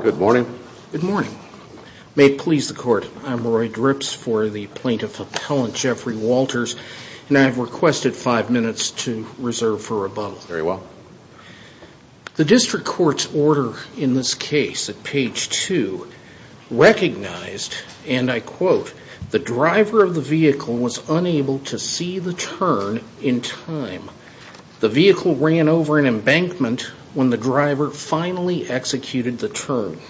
Good morning. Good morning. May it please the court, I'm Roy Drips for the plaintiff appellant Jeffrey Walters and I have requested five minutes to reserve for you. Recognized, and I quote, the driver of the vehicle was unable to see the turn in time. The vehicle ran over an embankment when the driver finally executed the turn.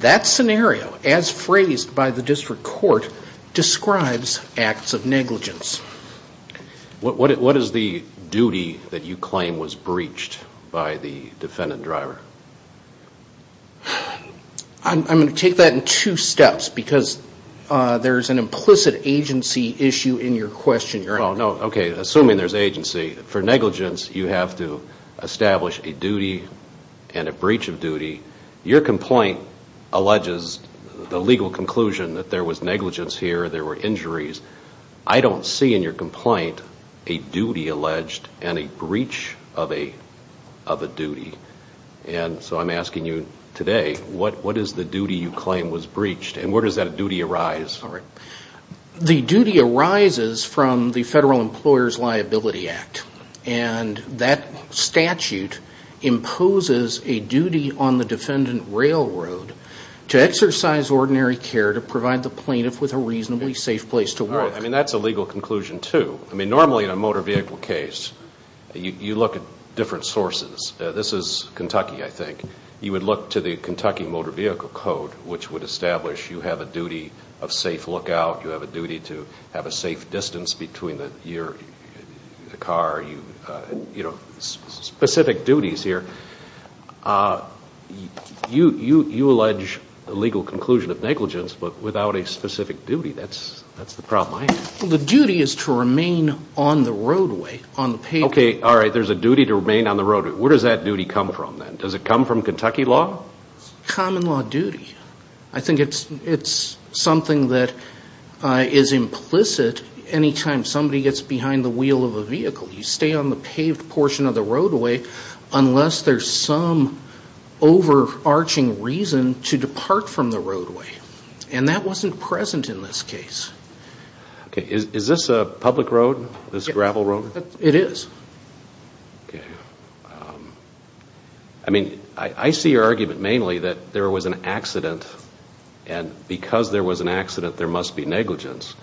That scenario, as phrased by the district court, describes acts of negligence. What is the duty that you claim was breached by the defendant driver? I'm going to take that in two steps because there's an implicit agency issue in your question. Assuming there's agency, for negligence you have to establish a duty and a breach of duty. Your complaint alleges the legal conclusion that there was negligence here, there were injuries. I don't see in your complaint a duty alleged and a breach of a duty. And so I'm asking you today, what is the duty you claim was breached and where does that duty arise? The duty arises from the Federal Employers Liability Act. And that statute imposes a duty on the defendant railroad to exercise ordinary care to provide the That's a legal conclusion too. Normally in a motor vehicle case, you look at different sources. This is Kentucky, I think. You would look to the Kentucky Motor Vehicle Code, which would establish you have a duty of safe lookout, you have a duty to have a safe distance between your car. Specific duties here. You allege a legal conclusion of negligence, but without a specific duty. That's the problem I have. The duty is to remain on the roadway. Okay, all right, there's a duty to remain on the roadway. Where does that duty come from then? Does it come from Kentucky law? Common law duty. I think it's something that is implicit any time somebody gets behind the wheel of a vehicle. You stay on the paved portion of the roadway unless there's some overarching reason to depart from the roadway. And that wasn't present in this case. Okay, is this a public road, this gravel road? It is. I mean, I see your argument mainly that there was an accident, and because there was an accident, there must be negligence.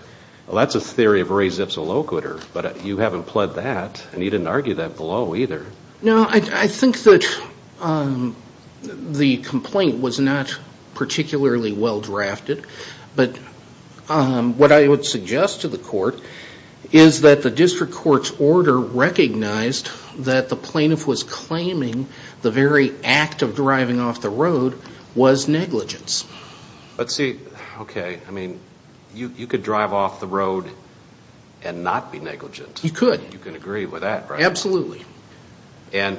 Well, that's a theory of Ray Zips, a locator, but you haven't pled that, and you didn't argue that below either. No, I think that the complaint was not particularly well drafted, but what I would suggest to the court is that the district court's order recognized that the plaintiff was claiming the very act of driving off the road was negligence. But see, okay, I mean, you could drive off the road and not be negligent. You could. You can agree with that, right? Absolutely. And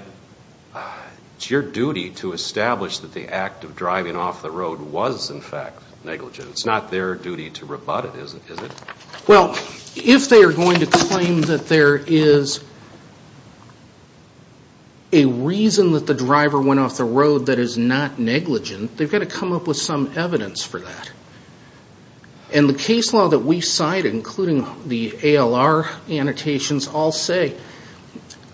it's your duty to establish that the act of driving off the road was, in fact, negligence. It's not their duty to rebut it, is it? Well, if they are going to claim that there is a reason that the driver went off the road that is not negligent, they've got to come up with some evidence for that. And the case law that we cite, including the ALR annotations, all say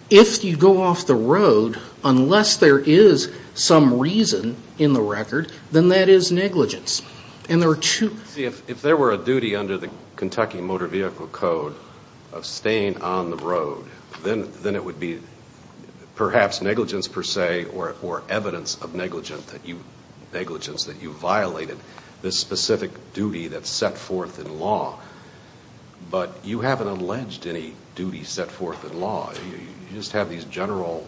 if you go off the road, unless there is some reason in the record, then that is negligence. And there are two... See, if there were a duty under the Kentucky Motor Vehicle Code of staying on the road, then it would be perhaps negligence per se or evidence of negligence that you violated this specific duty that's set forth in law. But you haven't alleged any duty set forth in law. You just have these general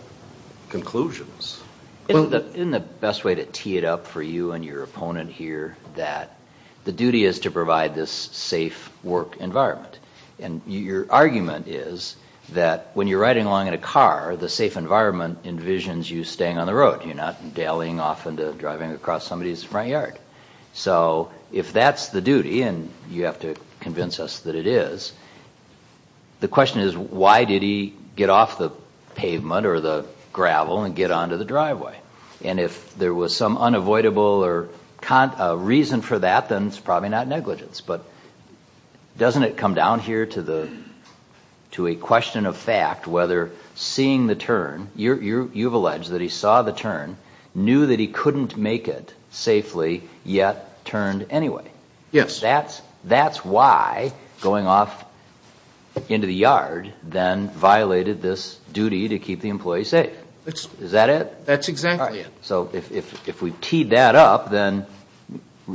conclusions. Isn't the best way to tee it up for you and your opponent here that the duty is to provide this safe work environment? And your argument is that when you're riding along in a car, the safe environment envisions you staying on the road. You're not dallying off into driving across somebody's front yard. So if that's the duty, and you have to convince us that it is, the question is why did he get off the pavement or the gravel and get onto the driveway? And if there was some unavoidable reason for that, then it's probably not negligence. But doesn't it come down here to a question of fact whether seeing the turn, you've alleged that he saw the turn, knew that he couldn't make it safely, yet turned anyway. Yes. That's why going off into the yard then violated this duty to keep the employee safe. Is that it? That's exactly it. So if we've teed that up, then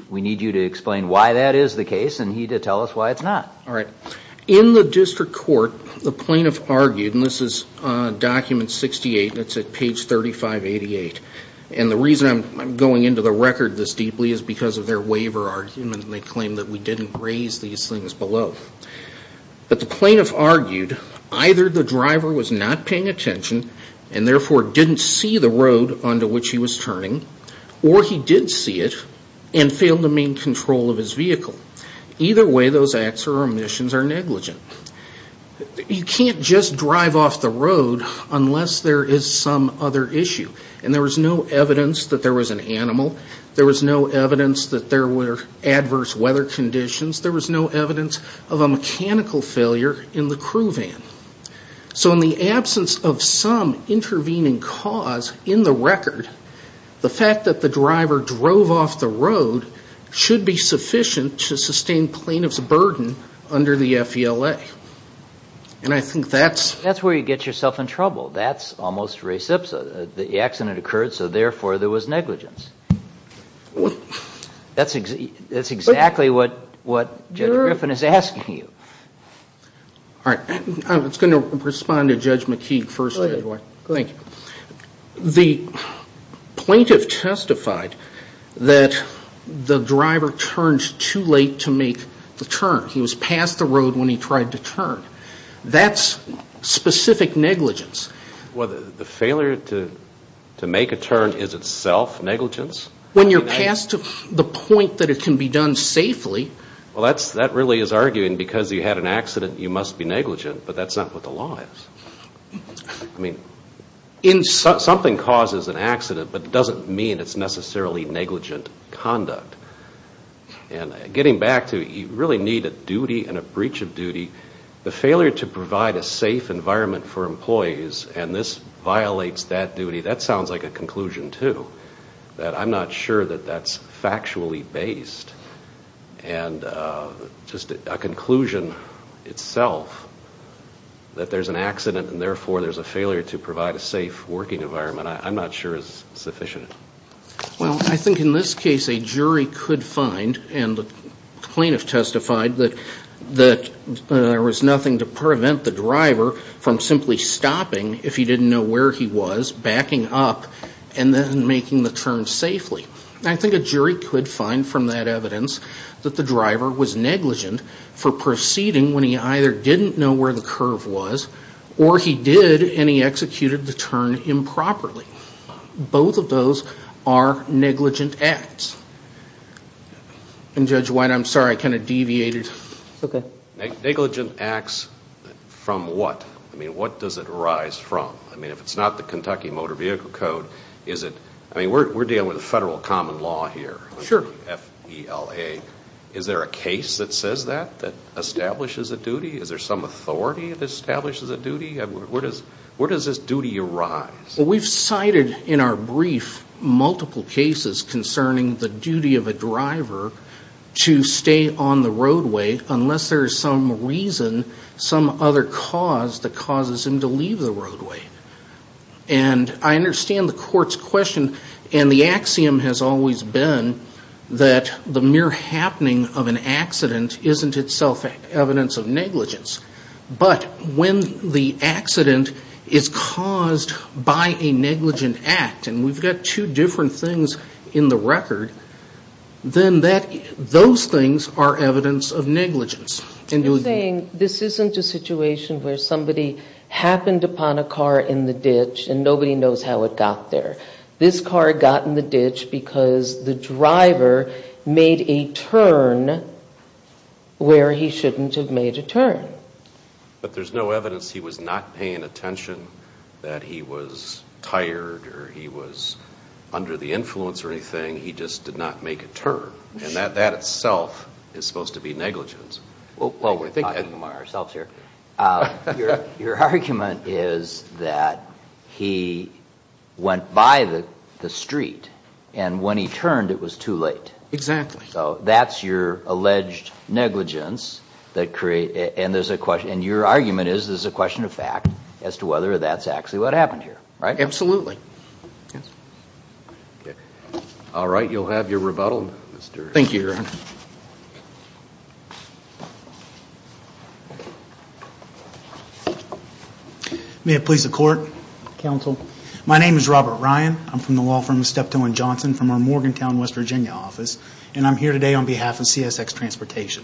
we need you to explain why that is the case and he to tell us why it's not. All right. In the district court, the plaintiff argued, and this is document 68, that's at page 3588. And the reason I'm going into the record this deeply is because of their waiver argument. They claim that we didn't raise these things below. But the plaintiff argued either the driver was not paying attention and therefore didn't see the road onto which he was turning, or he did see it and failed to maintain control of his vehicle. Either way, those acts or omissions are negligent. You can't just drive off the road unless there is some other issue. And there was no evidence that there was an animal. There was no evidence that there were adverse weather conditions. There was no evidence of a mechanical failure in the crew van. So in the absence of some intervening cause in the record, the fact that the driver drove off the road should be sufficient to sustain plaintiff's burden under the FELA. And I think that's... That's where you get yourself in trouble. That's almost reciprocal. The accident occurred, so therefore there was negligence. That's exactly what Jennifer Griffin is asking you. All right. I was going to respond to Judge McKeague first. Go ahead. Thank you. The plaintiff testified that the driver turned too late to make the turn. He was past the road when he tried to turn. That's specific negligence. Well, the failure to make a turn is itself negligence? When you're past the point that it can be done safely... Well, that really is arguing because you had an accident, you must be negligent, but that's not what the law is. I mean, something causes an accident, but it doesn't mean it's necessarily negligent conduct. And getting back to you really need a duty and a breach of duty. The failure to provide a safe environment for employees, and this violates that duty, that sounds like a conclusion too, that I'm not sure that that's factually based. And just a conclusion itself, that there's an accident and therefore there's a failure to provide a safe working environment, I'm not sure is sufficient. Well, I think in this case a jury could find, and the plaintiff testified, that there was nothing to prevent the driver from simply stopping, if he didn't know where he was, backing up, and then making the turn safely. I think a jury could find from that evidence that the driver was negligent for proceeding when he either didn't know where the curve was, or he did and he executed the turn improperly. Both of those are negligent acts. And Judge White, I'm sorry, I kind of deviated. Okay. Negligent acts from what? I mean, what does it arise from? I mean, if it's not the Kentucky Motor Vehicle Code, is it? I mean, we're dealing with a federal common law here, F-E-L-A. Is there a case that says that, that establishes a duty? Is there some authority that establishes a duty? Where does this duty arise? Well, we've cited in our brief multiple cases concerning the duty of a driver to stay on the roadway unless there is some reason, some other cause that causes him to leave the roadway. And I understand the court's question, and the axiom has always been that the mere happening of an accident isn't itself evidence of negligence. But when the accident is caused by a negligent act, and we've got two different things in the record, then those things are evidence of negligence. You're saying this isn't a situation where somebody happened upon a car in the ditch, and nobody knows how it got there. This car got in the ditch because the driver made a turn where he shouldn't have made a turn. But there's no evidence he was not paying attention, that he was tired or he was under the influence or anything. He just did not make a turn. And that itself is supposed to be negligence. Well, we're talking about ourselves here. Your argument is that he went by the street, and when he turned it was too late. Exactly. So that's your alleged negligence. And your argument is there's a question of fact as to whether that's actually what happened here, right? Absolutely. All right. You'll have your rebuttal. Thank you, Your Honor. May it please the Court, Counsel. My name is Robert Ryan. I'm from the law firm of Steptoe & Johnson from our Morgantown, West Virginia office. And I'm here today on behalf of CSX Transportation.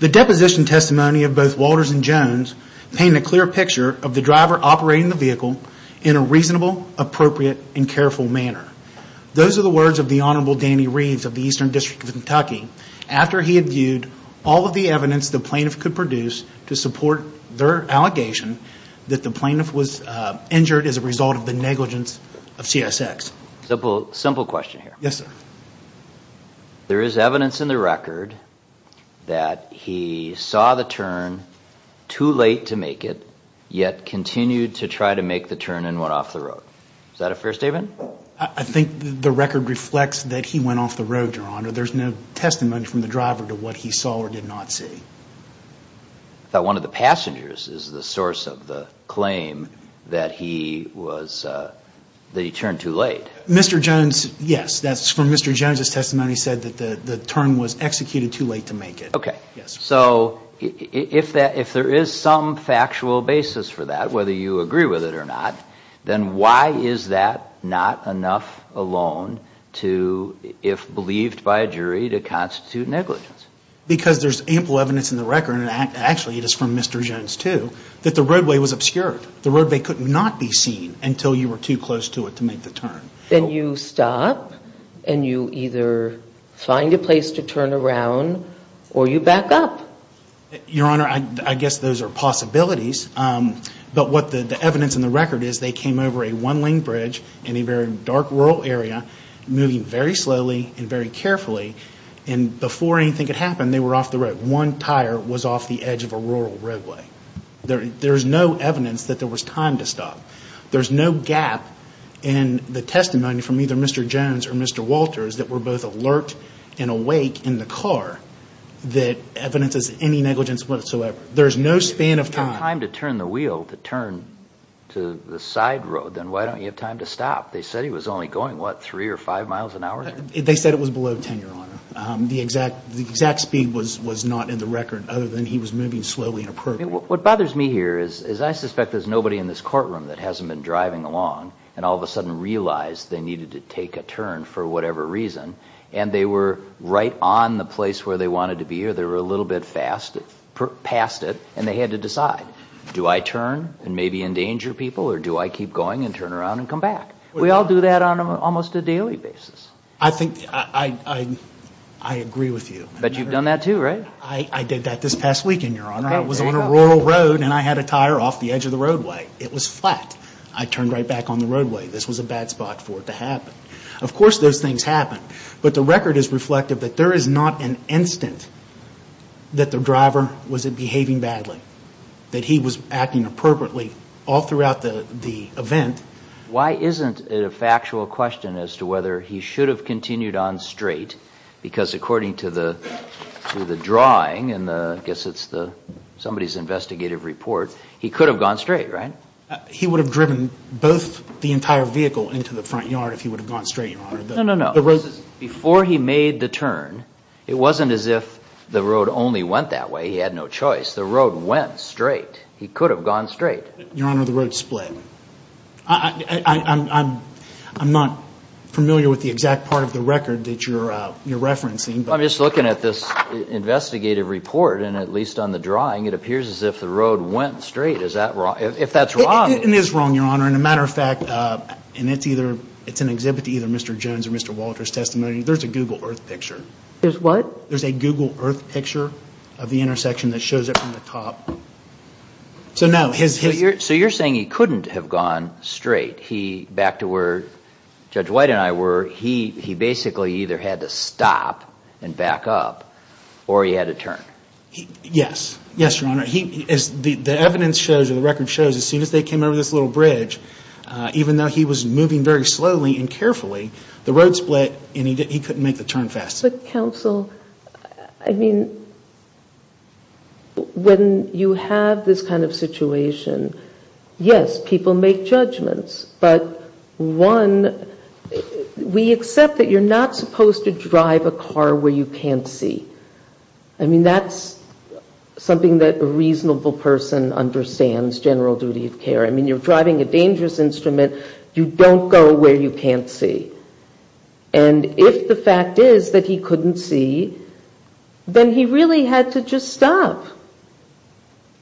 The deposition testimony of both Walters and Jones paint a clear picture of the driver operating the vehicle in a reasonable, appropriate, and careful manner. Those are the words of the Honorable Danny Reeves of the Eastern District of Kentucky after he had viewed all of the evidence the plaintiff could produce to support their allegation that the plaintiff was injured as a result of the negligence of CSX. Simple question here. Yes, sir. There is evidence in the record that he saw the turn too late to make it, yet continued to try to make the turn and went off the road. Is that a fair statement? I think the record reflects that he went off the road, Your Honor. There's no testimony from the driver to what he saw or did not see. I thought one of the passengers is the source of the claim that he turned too late. Mr. Jones, yes. From Mr. Jones' testimony, he said that the turn was executed too late to make it. Okay. Yes, sir. So if there is some factual basis for that, whether you agree with it or not, then why is that not enough alone to, if believed by a jury, to constitute negligence? Because there's ample evidence in the record, and actually it is from Mr. Jones too, that the roadway was obscured. The roadway could not be seen until you were too close to it to make the turn. Then you stop and you either find a place to turn around or you back up. Your Honor, I guess those are possibilities, but what the evidence in the record is they came over a one-lane bridge in a very dark rural area, moving very slowly and very carefully, and before anything could happen, they were off the road. One tire was off the edge of a rural roadway. There is no evidence that there was time to stop. There is no gap in the testimony from either Mr. Jones or Mr. Walters that were both alert and awake in the car that evidences any negligence whatsoever. There is no span of time. If you have time to turn the wheel, to turn to the side road, then why don't you have time to stop? They said he was only going, what, three or five miles an hour? They said it was below 10, Your Honor. The exact speed was not in the record other than he was moving slowly and appropriately. What bothers me here is I suspect there's nobody in this courtroom that hasn't been driving along and all of a sudden realized they needed to take a turn for whatever reason, and they were right on the place where they wanted to be or they were a little bit past it and they had to decide, do I turn and maybe endanger people or do I keep going and turn around and come back? We all do that on almost a daily basis. I agree with you. But you've done that too, right? I did that this past weekend, Your Honor. I was on a rural road and I had a tire off the edge of the roadway. It was flat. I turned right back on the roadway. This was a bad spot for it to happen. Of course those things happen, but the record is reflective that there is not an instant that the driver was behaving badly, that he was acting appropriately all throughout the event. Why isn't it a factual question as to whether he should have continued on straight? Because according to the drawing and I guess it's somebody's investigative report, he could have gone straight, right? He would have driven both the entire vehicle into the front yard if he would have gone straight, Your Honor. No, no, no. Before he made the turn, it wasn't as if the road only went that way. He had no choice. The road went straight. He could have gone straight. Your Honor, the road split. I'm not familiar with the exact part of the record that you're referencing. I'm just looking at this investigative report, and at least on the drawing, it appears as if the road went straight. Is that wrong? If that's wrong. It is wrong, Your Honor. As a matter of fact, and it's an exhibit to either Mr. Jones or Mr. Walter's testimony, there's a Google Earth picture. There's what? There's a Google Earth picture of the intersection that shows it from the top. So no. So you're saying he couldn't have gone straight back to where Judge White and I were. He basically either had to stop and back up, or he had to turn. Yes. Yes, Your Honor. The evidence shows, or the record shows, as soon as they came over this little bridge, even though he was moving very slowly and carefully, the road split, and he couldn't make the turn fast enough. As a counsel, I mean, when you have this kind of situation, yes, people make judgments. But one, we accept that you're not supposed to drive a car where you can't see. I mean, that's something that a reasonable person understands, general duty of care. I mean, you're driving a dangerous instrument. You don't go where you can't see. And if the fact is that he couldn't see, then he really had to just stop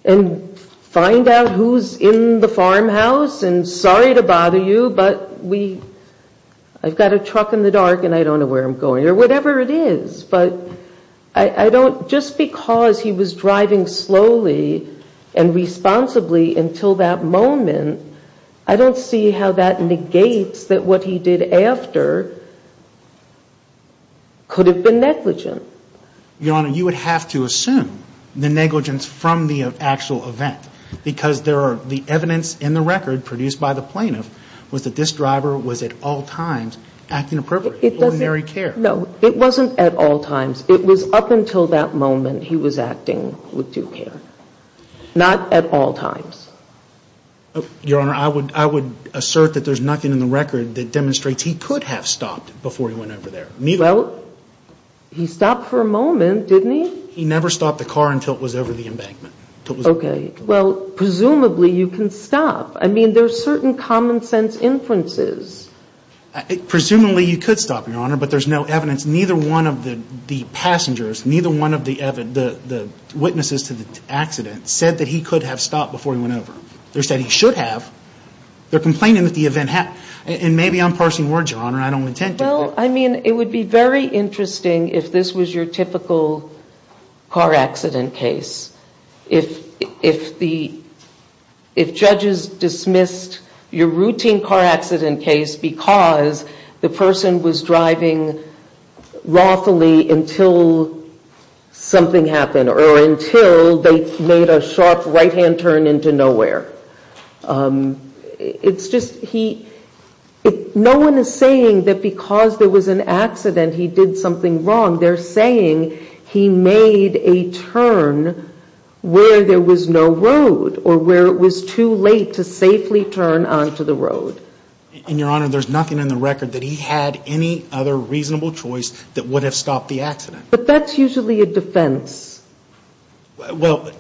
and find out who's in the farmhouse. And sorry to bother you, but I've got a truck in the dark, and I don't know where I'm going, or whatever it is. But just because he was driving slowly and responsibly until that moment, I don't see how that negates that what he did after could have been negligent. Your Honor, you would have to assume the negligence from the actual event, because the evidence in the record produced by the plaintiff was that this driver was at all times acting appropriately. No, it wasn't at all times. It was up until that moment he was acting with due care. Not at all times. Your Honor, I would assert that there's nothing in the record that demonstrates he could have stopped before he went over there. Well, he stopped for a moment, didn't he? He never stopped the car until it was over the embankment. Okay. Well, presumably you can stop. I mean, there's certain common sense inferences. Presumably you could stop, Your Honor, but there's no evidence. Neither one of the passengers, neither one of the witnesses to the accident said that he could have stopped before he went over. They said he should have. They're complaining that the event happened. And maybe I'm parsing words, Your Honor, and I don't intend to. Well, I mean, it would be very interesting if this was your typical car accident case. If judges dismissed your routine car accident case because the person was driving lawfully until something happened or until they made a sharp right-hand turn into nowhere. It's just he – no one is saying that because there was an accident he did something wrong. They're saying he made a turn where there was no road or where it was too late to safely turn onto the road. And, Your Honor, there's nothing in the record that he had any other reasonable choice that would have stopped the accident. But that's usually a defense. Well,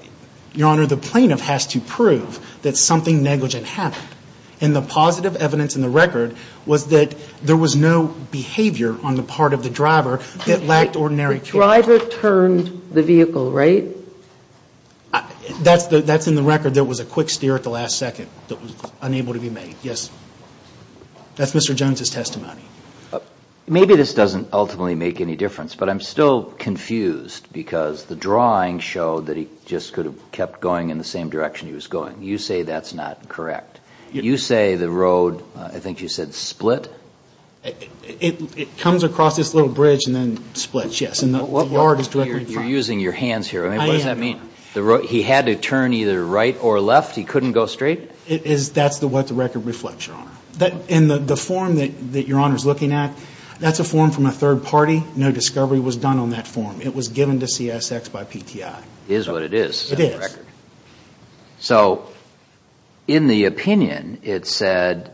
Your Honor, the plaintiff has to prove that something negligent happened. And the positive evidence in the record was that there was no behavior on the part of the driver that lacked ordinary care. The driver turned the vehicle, right? That's in the record. There was a quick steer at the last second that was unable to be made. Yes. That's Mr. Jones' testimony. Maybe this doesn't ultimately make any difference, but I'm still confused because the drawing showed that he just could have kept going in the same direction he was going. You say that's not correct. You say the road, I think you said split? It comes across this little bridge and then splits, yes. And the yard is directly in front. You're using your hands here. What does that mean? He had to turn either right or left? He couldn't go straight? That's what the record reflects, Your Honor. And the form that Your Honor is looking at, that's a form from a third party. No discovery was done on that form. It was given to CSX by PTI. It is what it is. It is. So in the opinion, it said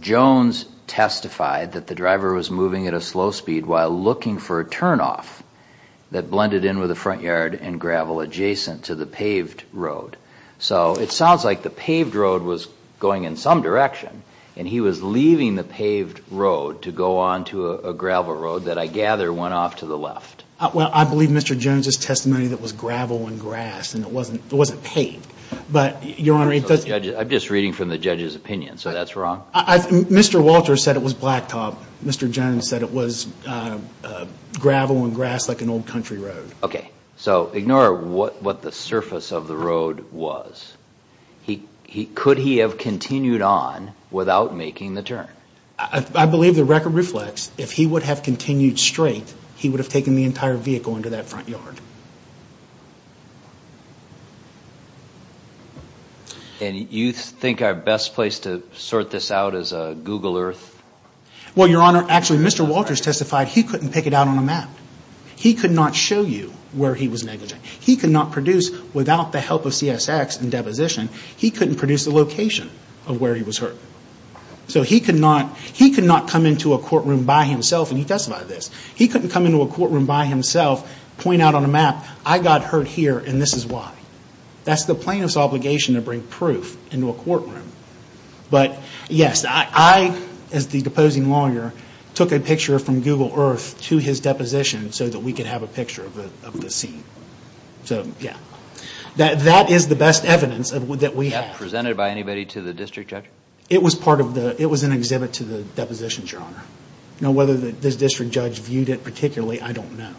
Jones testified that the driver was moving at a slow speed while looking for a turnoff that blended in with the front yard and gravel adjacent to the paved road. So it sounds like the paved road was going in some direction, and he was leaving the paved road to go onto a gravel road that I gather went off to the left. Well, I believe Mr. Jones' testimony that it was gravel and grass and it wasn't paved. But, Your Honor, it doesn't – I'm just reading from the judge's opinion, so that's wrong? Mr. Walter said it was blacktop. Mr. Jones said it was gravel and grass like an old country road. Okay. So ignore what the surface of the road was. Could he have continued on without making the turn? I believe the record reflects if he would have continued straight, he would have taken the entire vehicle into that front yard. And you think our best place to sort this out is Google Earth? Well, Your Honor, actually, Mr. Walters testified he couldn't pick it out on a map. He could not show you where he was negligent. He could not produce without the help of CSX and deposition. He couldn't produce the location of where he was hurt. So he could not come into a courtroom by himself, and he testified to this, he couldn't come into a courtroom by himself, point out on a map, I got hurt here and this is why. That's the plaintiff's obligation to bring proof into a courtroom. But, yes, I, as the deposing lawyer, took a picture from Google Earth to his deposition so that we could have a picture of the scene. So, yeah. That is the best evidence that we have. Was that presented by anybody to the district judge? It was part of the, it was an exhibit to the depositions, Your Honor. Now, whether this district judge viewed it particularly, I don't know.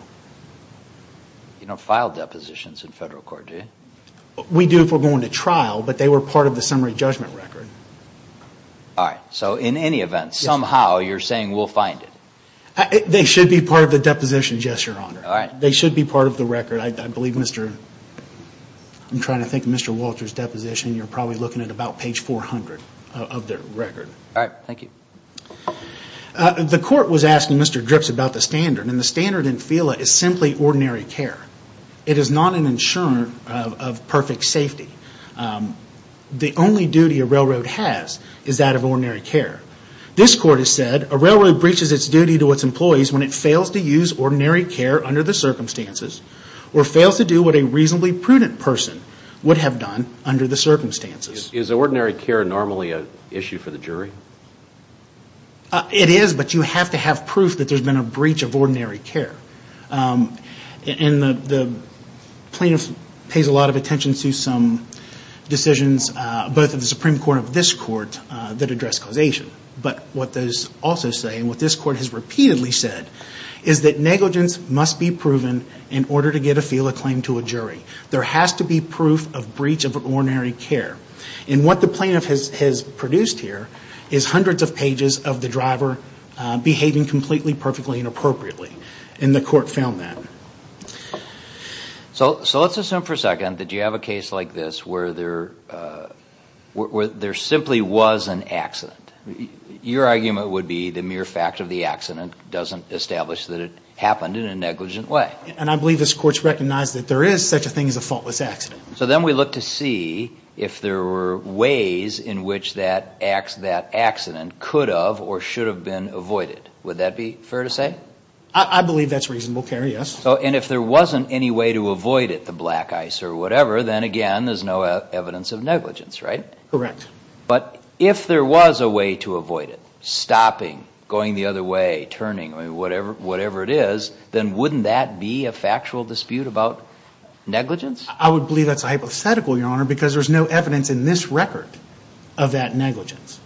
You don't file depositions in federal court, do you? We do if we're going to trial, but they were part of the summary judgment record. All right. So in any event, somehow, you're saying we'll find it. They should be part of the depositions, yes, Your Honor. All right. They should be part of the record. I believe Mr. I'm trying to think of Mr. Walter's deposition. You're probably looking at about page 400 of their record. All right. Thank you. The court was asking Mr. Dripps about the standard, and the standard in FELA is simply ordinary care. It is not an insurer of perfect safety. The only duty a railroad has is that of ordinary care. This court has said, a railroad breaches its duty to its employees when it fails to use ordinary care under the circumstances or fails to do what a reasonably prudent person would have done under the circumstances. Is ordinary care normally an issue for the jury? It is, but you have to have proof that there's been a breach of ordinary care. And the plaintiff pays a lot of attention to some decisions, both of the Supreme Court and of this court, that address causation. But what those also say, and what this court has repeatedly said, is that negligence must be proven in order to get a FELA claim to a jury. There has to be proof of breach of ordinary care. And what the plaintiff has produced here is hundreds of pages of the driver behaving completely, perfectly, and appropriately. And the court found that. So let's assume for a second that you have a case like this where there simply was an accident. Your argument would be the mere fact of the accident doesn't establish that it happened in a negligent way. And I believe this court's recognized that there is such a thing as a faultless accident. So then we look to see if there were ways in which that accident could have or should have been avoided. Would that be fair to say? I believe that's reasonable, Kerry, yes. And if there wasn't any way to avoid it, the black ice or whatever, then again there's no evidence of negligence, right? Correct. But if there was a way to avoid it, stopping, going the other way, turning, whatever it is, then wouldn't that be a factual dispute about negligence? I would believe that's a hypothetical, Your Honor, because there's no evidence in this record of that negligence.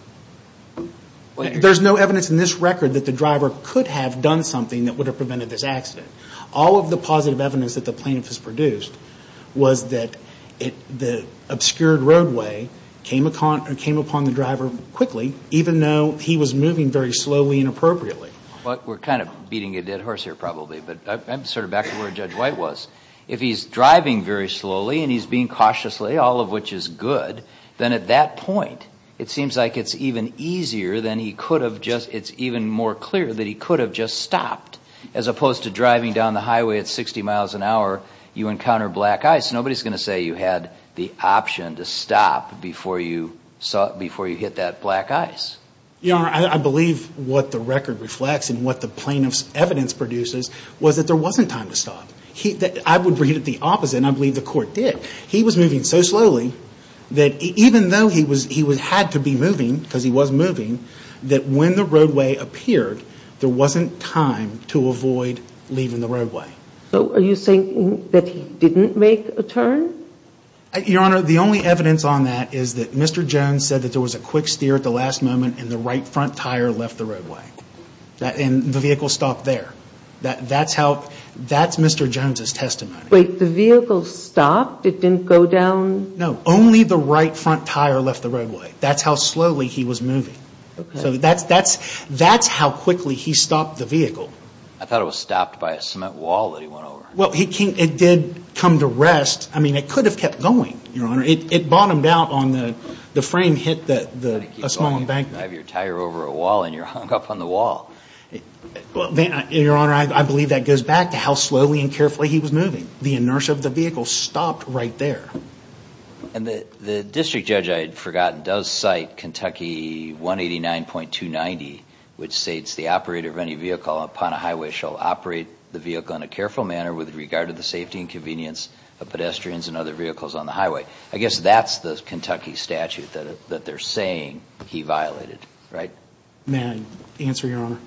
There's no evidence in this record that the driver could have done something that would have prevented this accident. All of the positive evidence that the plaintiff has produced was that the obscured roadway came upon the driver quickly, even though he was moving very slowly and appropriately. But we're kind of beating a dead horse here probably, but I'm sort of back to where Judge White was. If he's driving very slowly and he's being cautiously, all of which is good, then at that point it seems like it's even easier than he could have just, it's even more clear that he could have just stopped, as opposed to driving down the highway at 60 miles an hour, you encounter black ice. Nobody's going to say you had the option to stop before you hit that black ice. Your Honor, I believe what the record reflects and what the plaintiff's evidence produces was that there wasn't time to stop. I would read it the opposite, and I believe the court did. He was moving so slowly that even though he had to be moving, because he was moving, that when the roadway appeared, there wasn't time to avoid leaving the roadway. So are you saying that he didn't make a turn? Your Honor, the only evidence on that is that Mr. Jones said that there was a quick steer at the last moment and the right front tire left the roadway. And the vehicle stopped there. Wait, the vehicle stopped? It didn't go down? No. Only the right front tire left the roadway. That's how slowly he was moving. So that's how quickly he stopped the vehicle. I thought it was stopped by a cement wall that he went over. Well, it did come to rest. I mean, it could have kept going, Your Honor. It bottomed out on the frame hit a small embankment. You drive your tire over a wall and you're hung up on the wall. Your Honor, I believe that goes back to how slowly and carefully he was moving. The inertia of the vehicle stopped right there. And the district judge I had forgotten does cite Kentucky 189.290, which states the operator of any vehicle upon a highway shall operate the vehicle in a careful manner with regard to the safety and convenience of pedestrians and other vehicles on the highway. I guess that's the Kentucky statute that they're saying he violated, right? May I answer, Your Honor?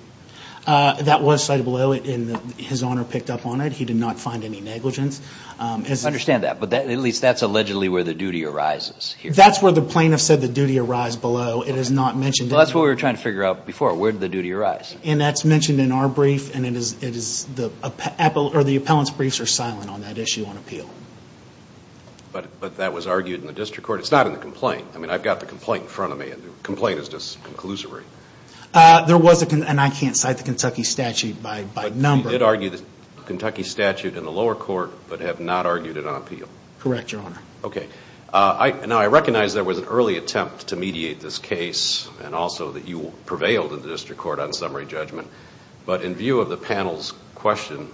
That was cited below, and His Honor picked up on it. He did not find any negligence. I understand that, but at least that's allegedly where the duty arises. That's where the plaintiff said the duty arise below. It is not mentioned. That's what we were trying to figure out before. Where did the duty arise? And that's mentioned in our brief, and the appellant's briefs are silent on that issue on appeal. But that was argued in the district court. It's not in the complaint. I mean, I've got the complaint in front of me, and the complaint is just conclusory. There was a complaint, and I can't cite the Kentucky statute by number. But you did argue the Kentucky statute in the lower court, but have not argued it on appeal. Correct, Your Honor. Okay. Now, I recognize there was an early attempt to mediate this case, and also that you prevailed in the district court on summary judgment. But in view of the panel's question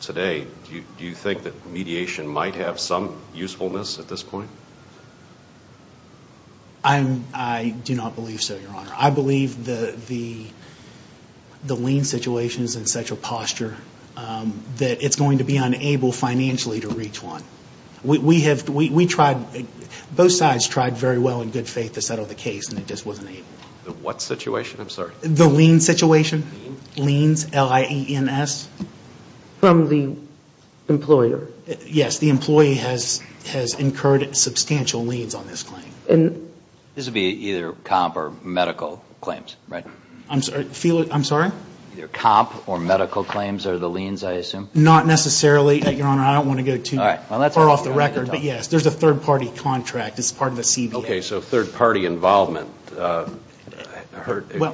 today, do you think that mediation might have some usefulness at this point? I do not believe so, Your Honor. I believe the lien situation is in such a posture that it's going to be unable financially to reach one. We tried, both sides tried very well in good faith to settle the case, and it just wasn't able. The what situation? I'm sorry. The lien situation. Liens, L-I-E-N-S. From the employer. Yes, the employee has incurred substantial liens on this claim. This would be either comp or medical claims, right? I'm sorry? Either comp or medical claims are the liens, I assume? Not necessarily, Your Honor. I don't want to go too far off the record. But, yes, there's a third-party contract. It's part of the CBA. Okay, so third-party involvement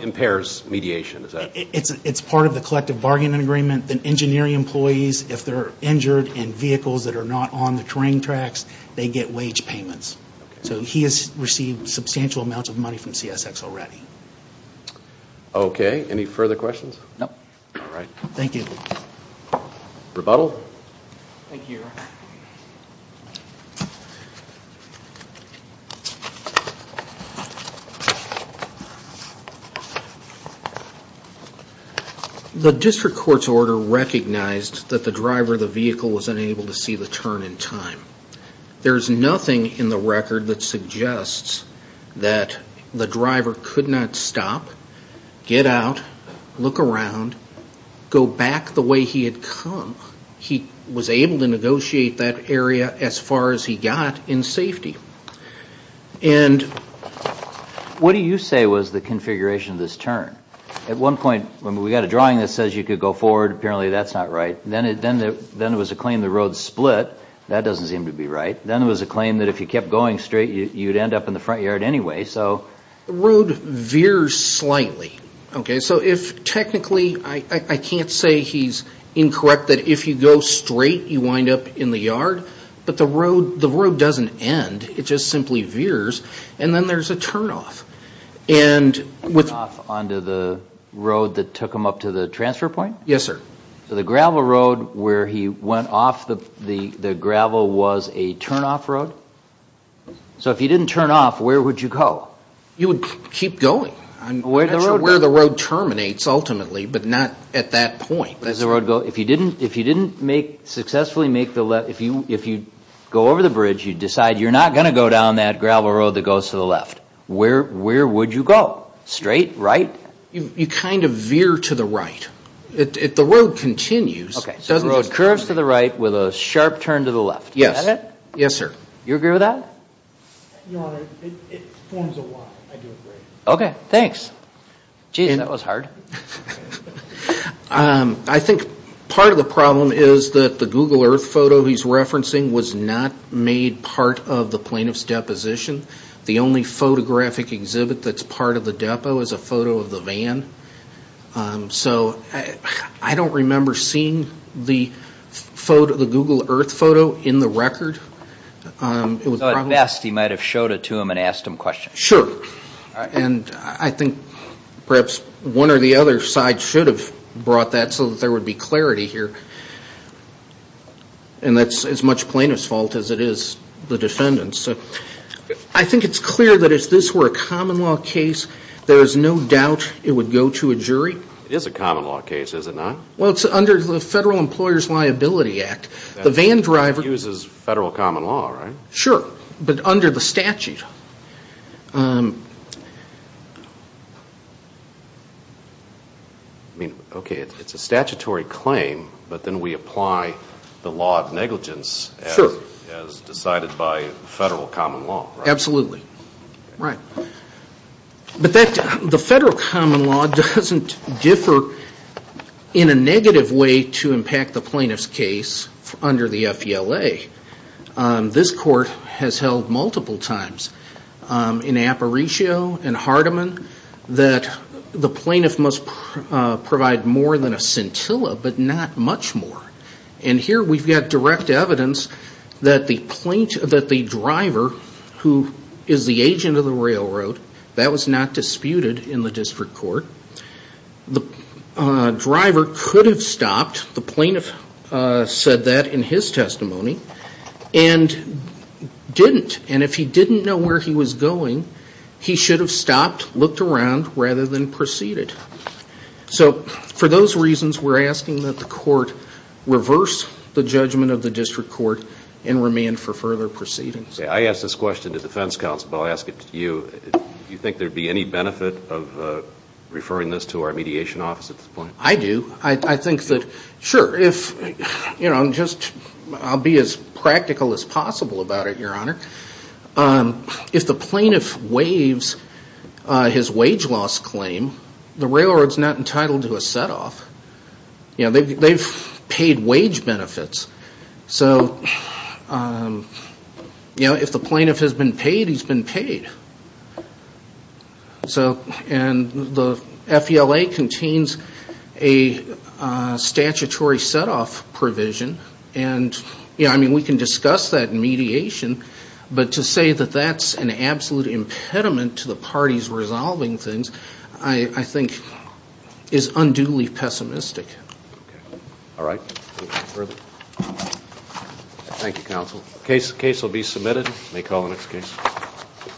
impairs mediation. It's part of the collective bargaining agreement. And then engineering employees, if they're injured in vehicles that are not on the terrain tracks, they get wage payments. So he has received substantial amounts of money from CSX already. Okay, any further questions? No. All right. Rebuttal? Thank you, Your Honor. The district court's order recognized that the driver of the vehicle was unable to see the turn in time. There's nothing in the record that suggests that the driver could not stop, get out, look around, go back the way he had come. He was able to negotiate that area as far as he got in safety. And what do you say was the configuration of this turn? At one point, we got a drawing that says you could go forward. Apparently, that's not right. Then it was a claim the road split. That doesn't seem to be right. Then it was a claim that if you kept going straight, you'd end up in the front yard anyway. So the road veers slightly. Okay, so technically, I can't say he's incorrect that if you go straight, you wind up in the yard. But the road doesn't end. It just simply veers. And then there's a turnoff. Turnoff onto the road that took him up to the transfer point? Yes, sir. So the gravel road where he went off the gravel was a turnoff road? So if he didn't turn off, where would you go? You would keep going. I'm not sure where the road terminates ultimately, but not at that point. If you didn't successfully make the left, if you go over the bridge, you decide you're not going to go down that gravel road that goes to the left. Where would you go? Straight? Right? You kind of veer to the right. If the road continues. Okay, so the road curves to the right with a sharp turn to the left. Is that it? Yes, sir. You agree with that? Your Honor, it forms a Y. I do agree. Okay, thanks. Gee, that was hard. I think part of the problem is that the Google Earth photo he's referencing was not made part of the plaintiff's deposition. The only photographic exhibit that's part of the depot is a photo of the van. So I don't remember seeing the Google Earth photo in the record. At best, he might have showed it to him and asked him questions. Sure. And I think perhaps one or the other side should have brought that so that there would be clarity here. And that's as much plaintiff's fault as it is the defendant's. I think it's clear that if this were a common law case, there is no doubt it would go to a jury. It is a common law case, is it not? Well, it's under the Federal Employer's Liability Act. It uses federal common law, right? Sure, but under the statute. Okay, it's a statutory claim, but then we apply the law of negligence as decided by federal common law, right? Absolutely, right. But the federal common law doesn't differ in a negative way to impact the plaintiff's case under the FELA. This court has held multiple times in Aparicio and Hardiman that the plaintiff must provide more than a scintilla, but not much more. And here we've got direct evidence that the driver, who is the agent of the railroad, that was not disputed in the district court. The driver could have stopped, the plaintiff said that in his testimony, and didn't. And if he didn't know where he was going, he should have stopped, looked around, rather than proceeded. So for those reasons, we're asking that the court reverse the judgment of the district court and remand for further proceedings. Okay, I ask this question to defense counsel, but I'll ask it to you. Do you think there would be any benefit of referring this to our mediation office at this point? I do. I think that, sure, I'll be as practical as possible about it, Your Honor. If the plaintiff waives his wage loss claim, the railroad is not entitled to a set-off. They've paid wage benefits. So if the plaintiff has been paid, he's been paid. And the FELA contains a statutory set-off provision. I mean, we can discuss that in mediation. But to say that that's an absolute impediment to the parties resolving things, I think, is unduly pessimistic. Okay. All right. Thank you, counsel. The case will be submitted. May call the next case.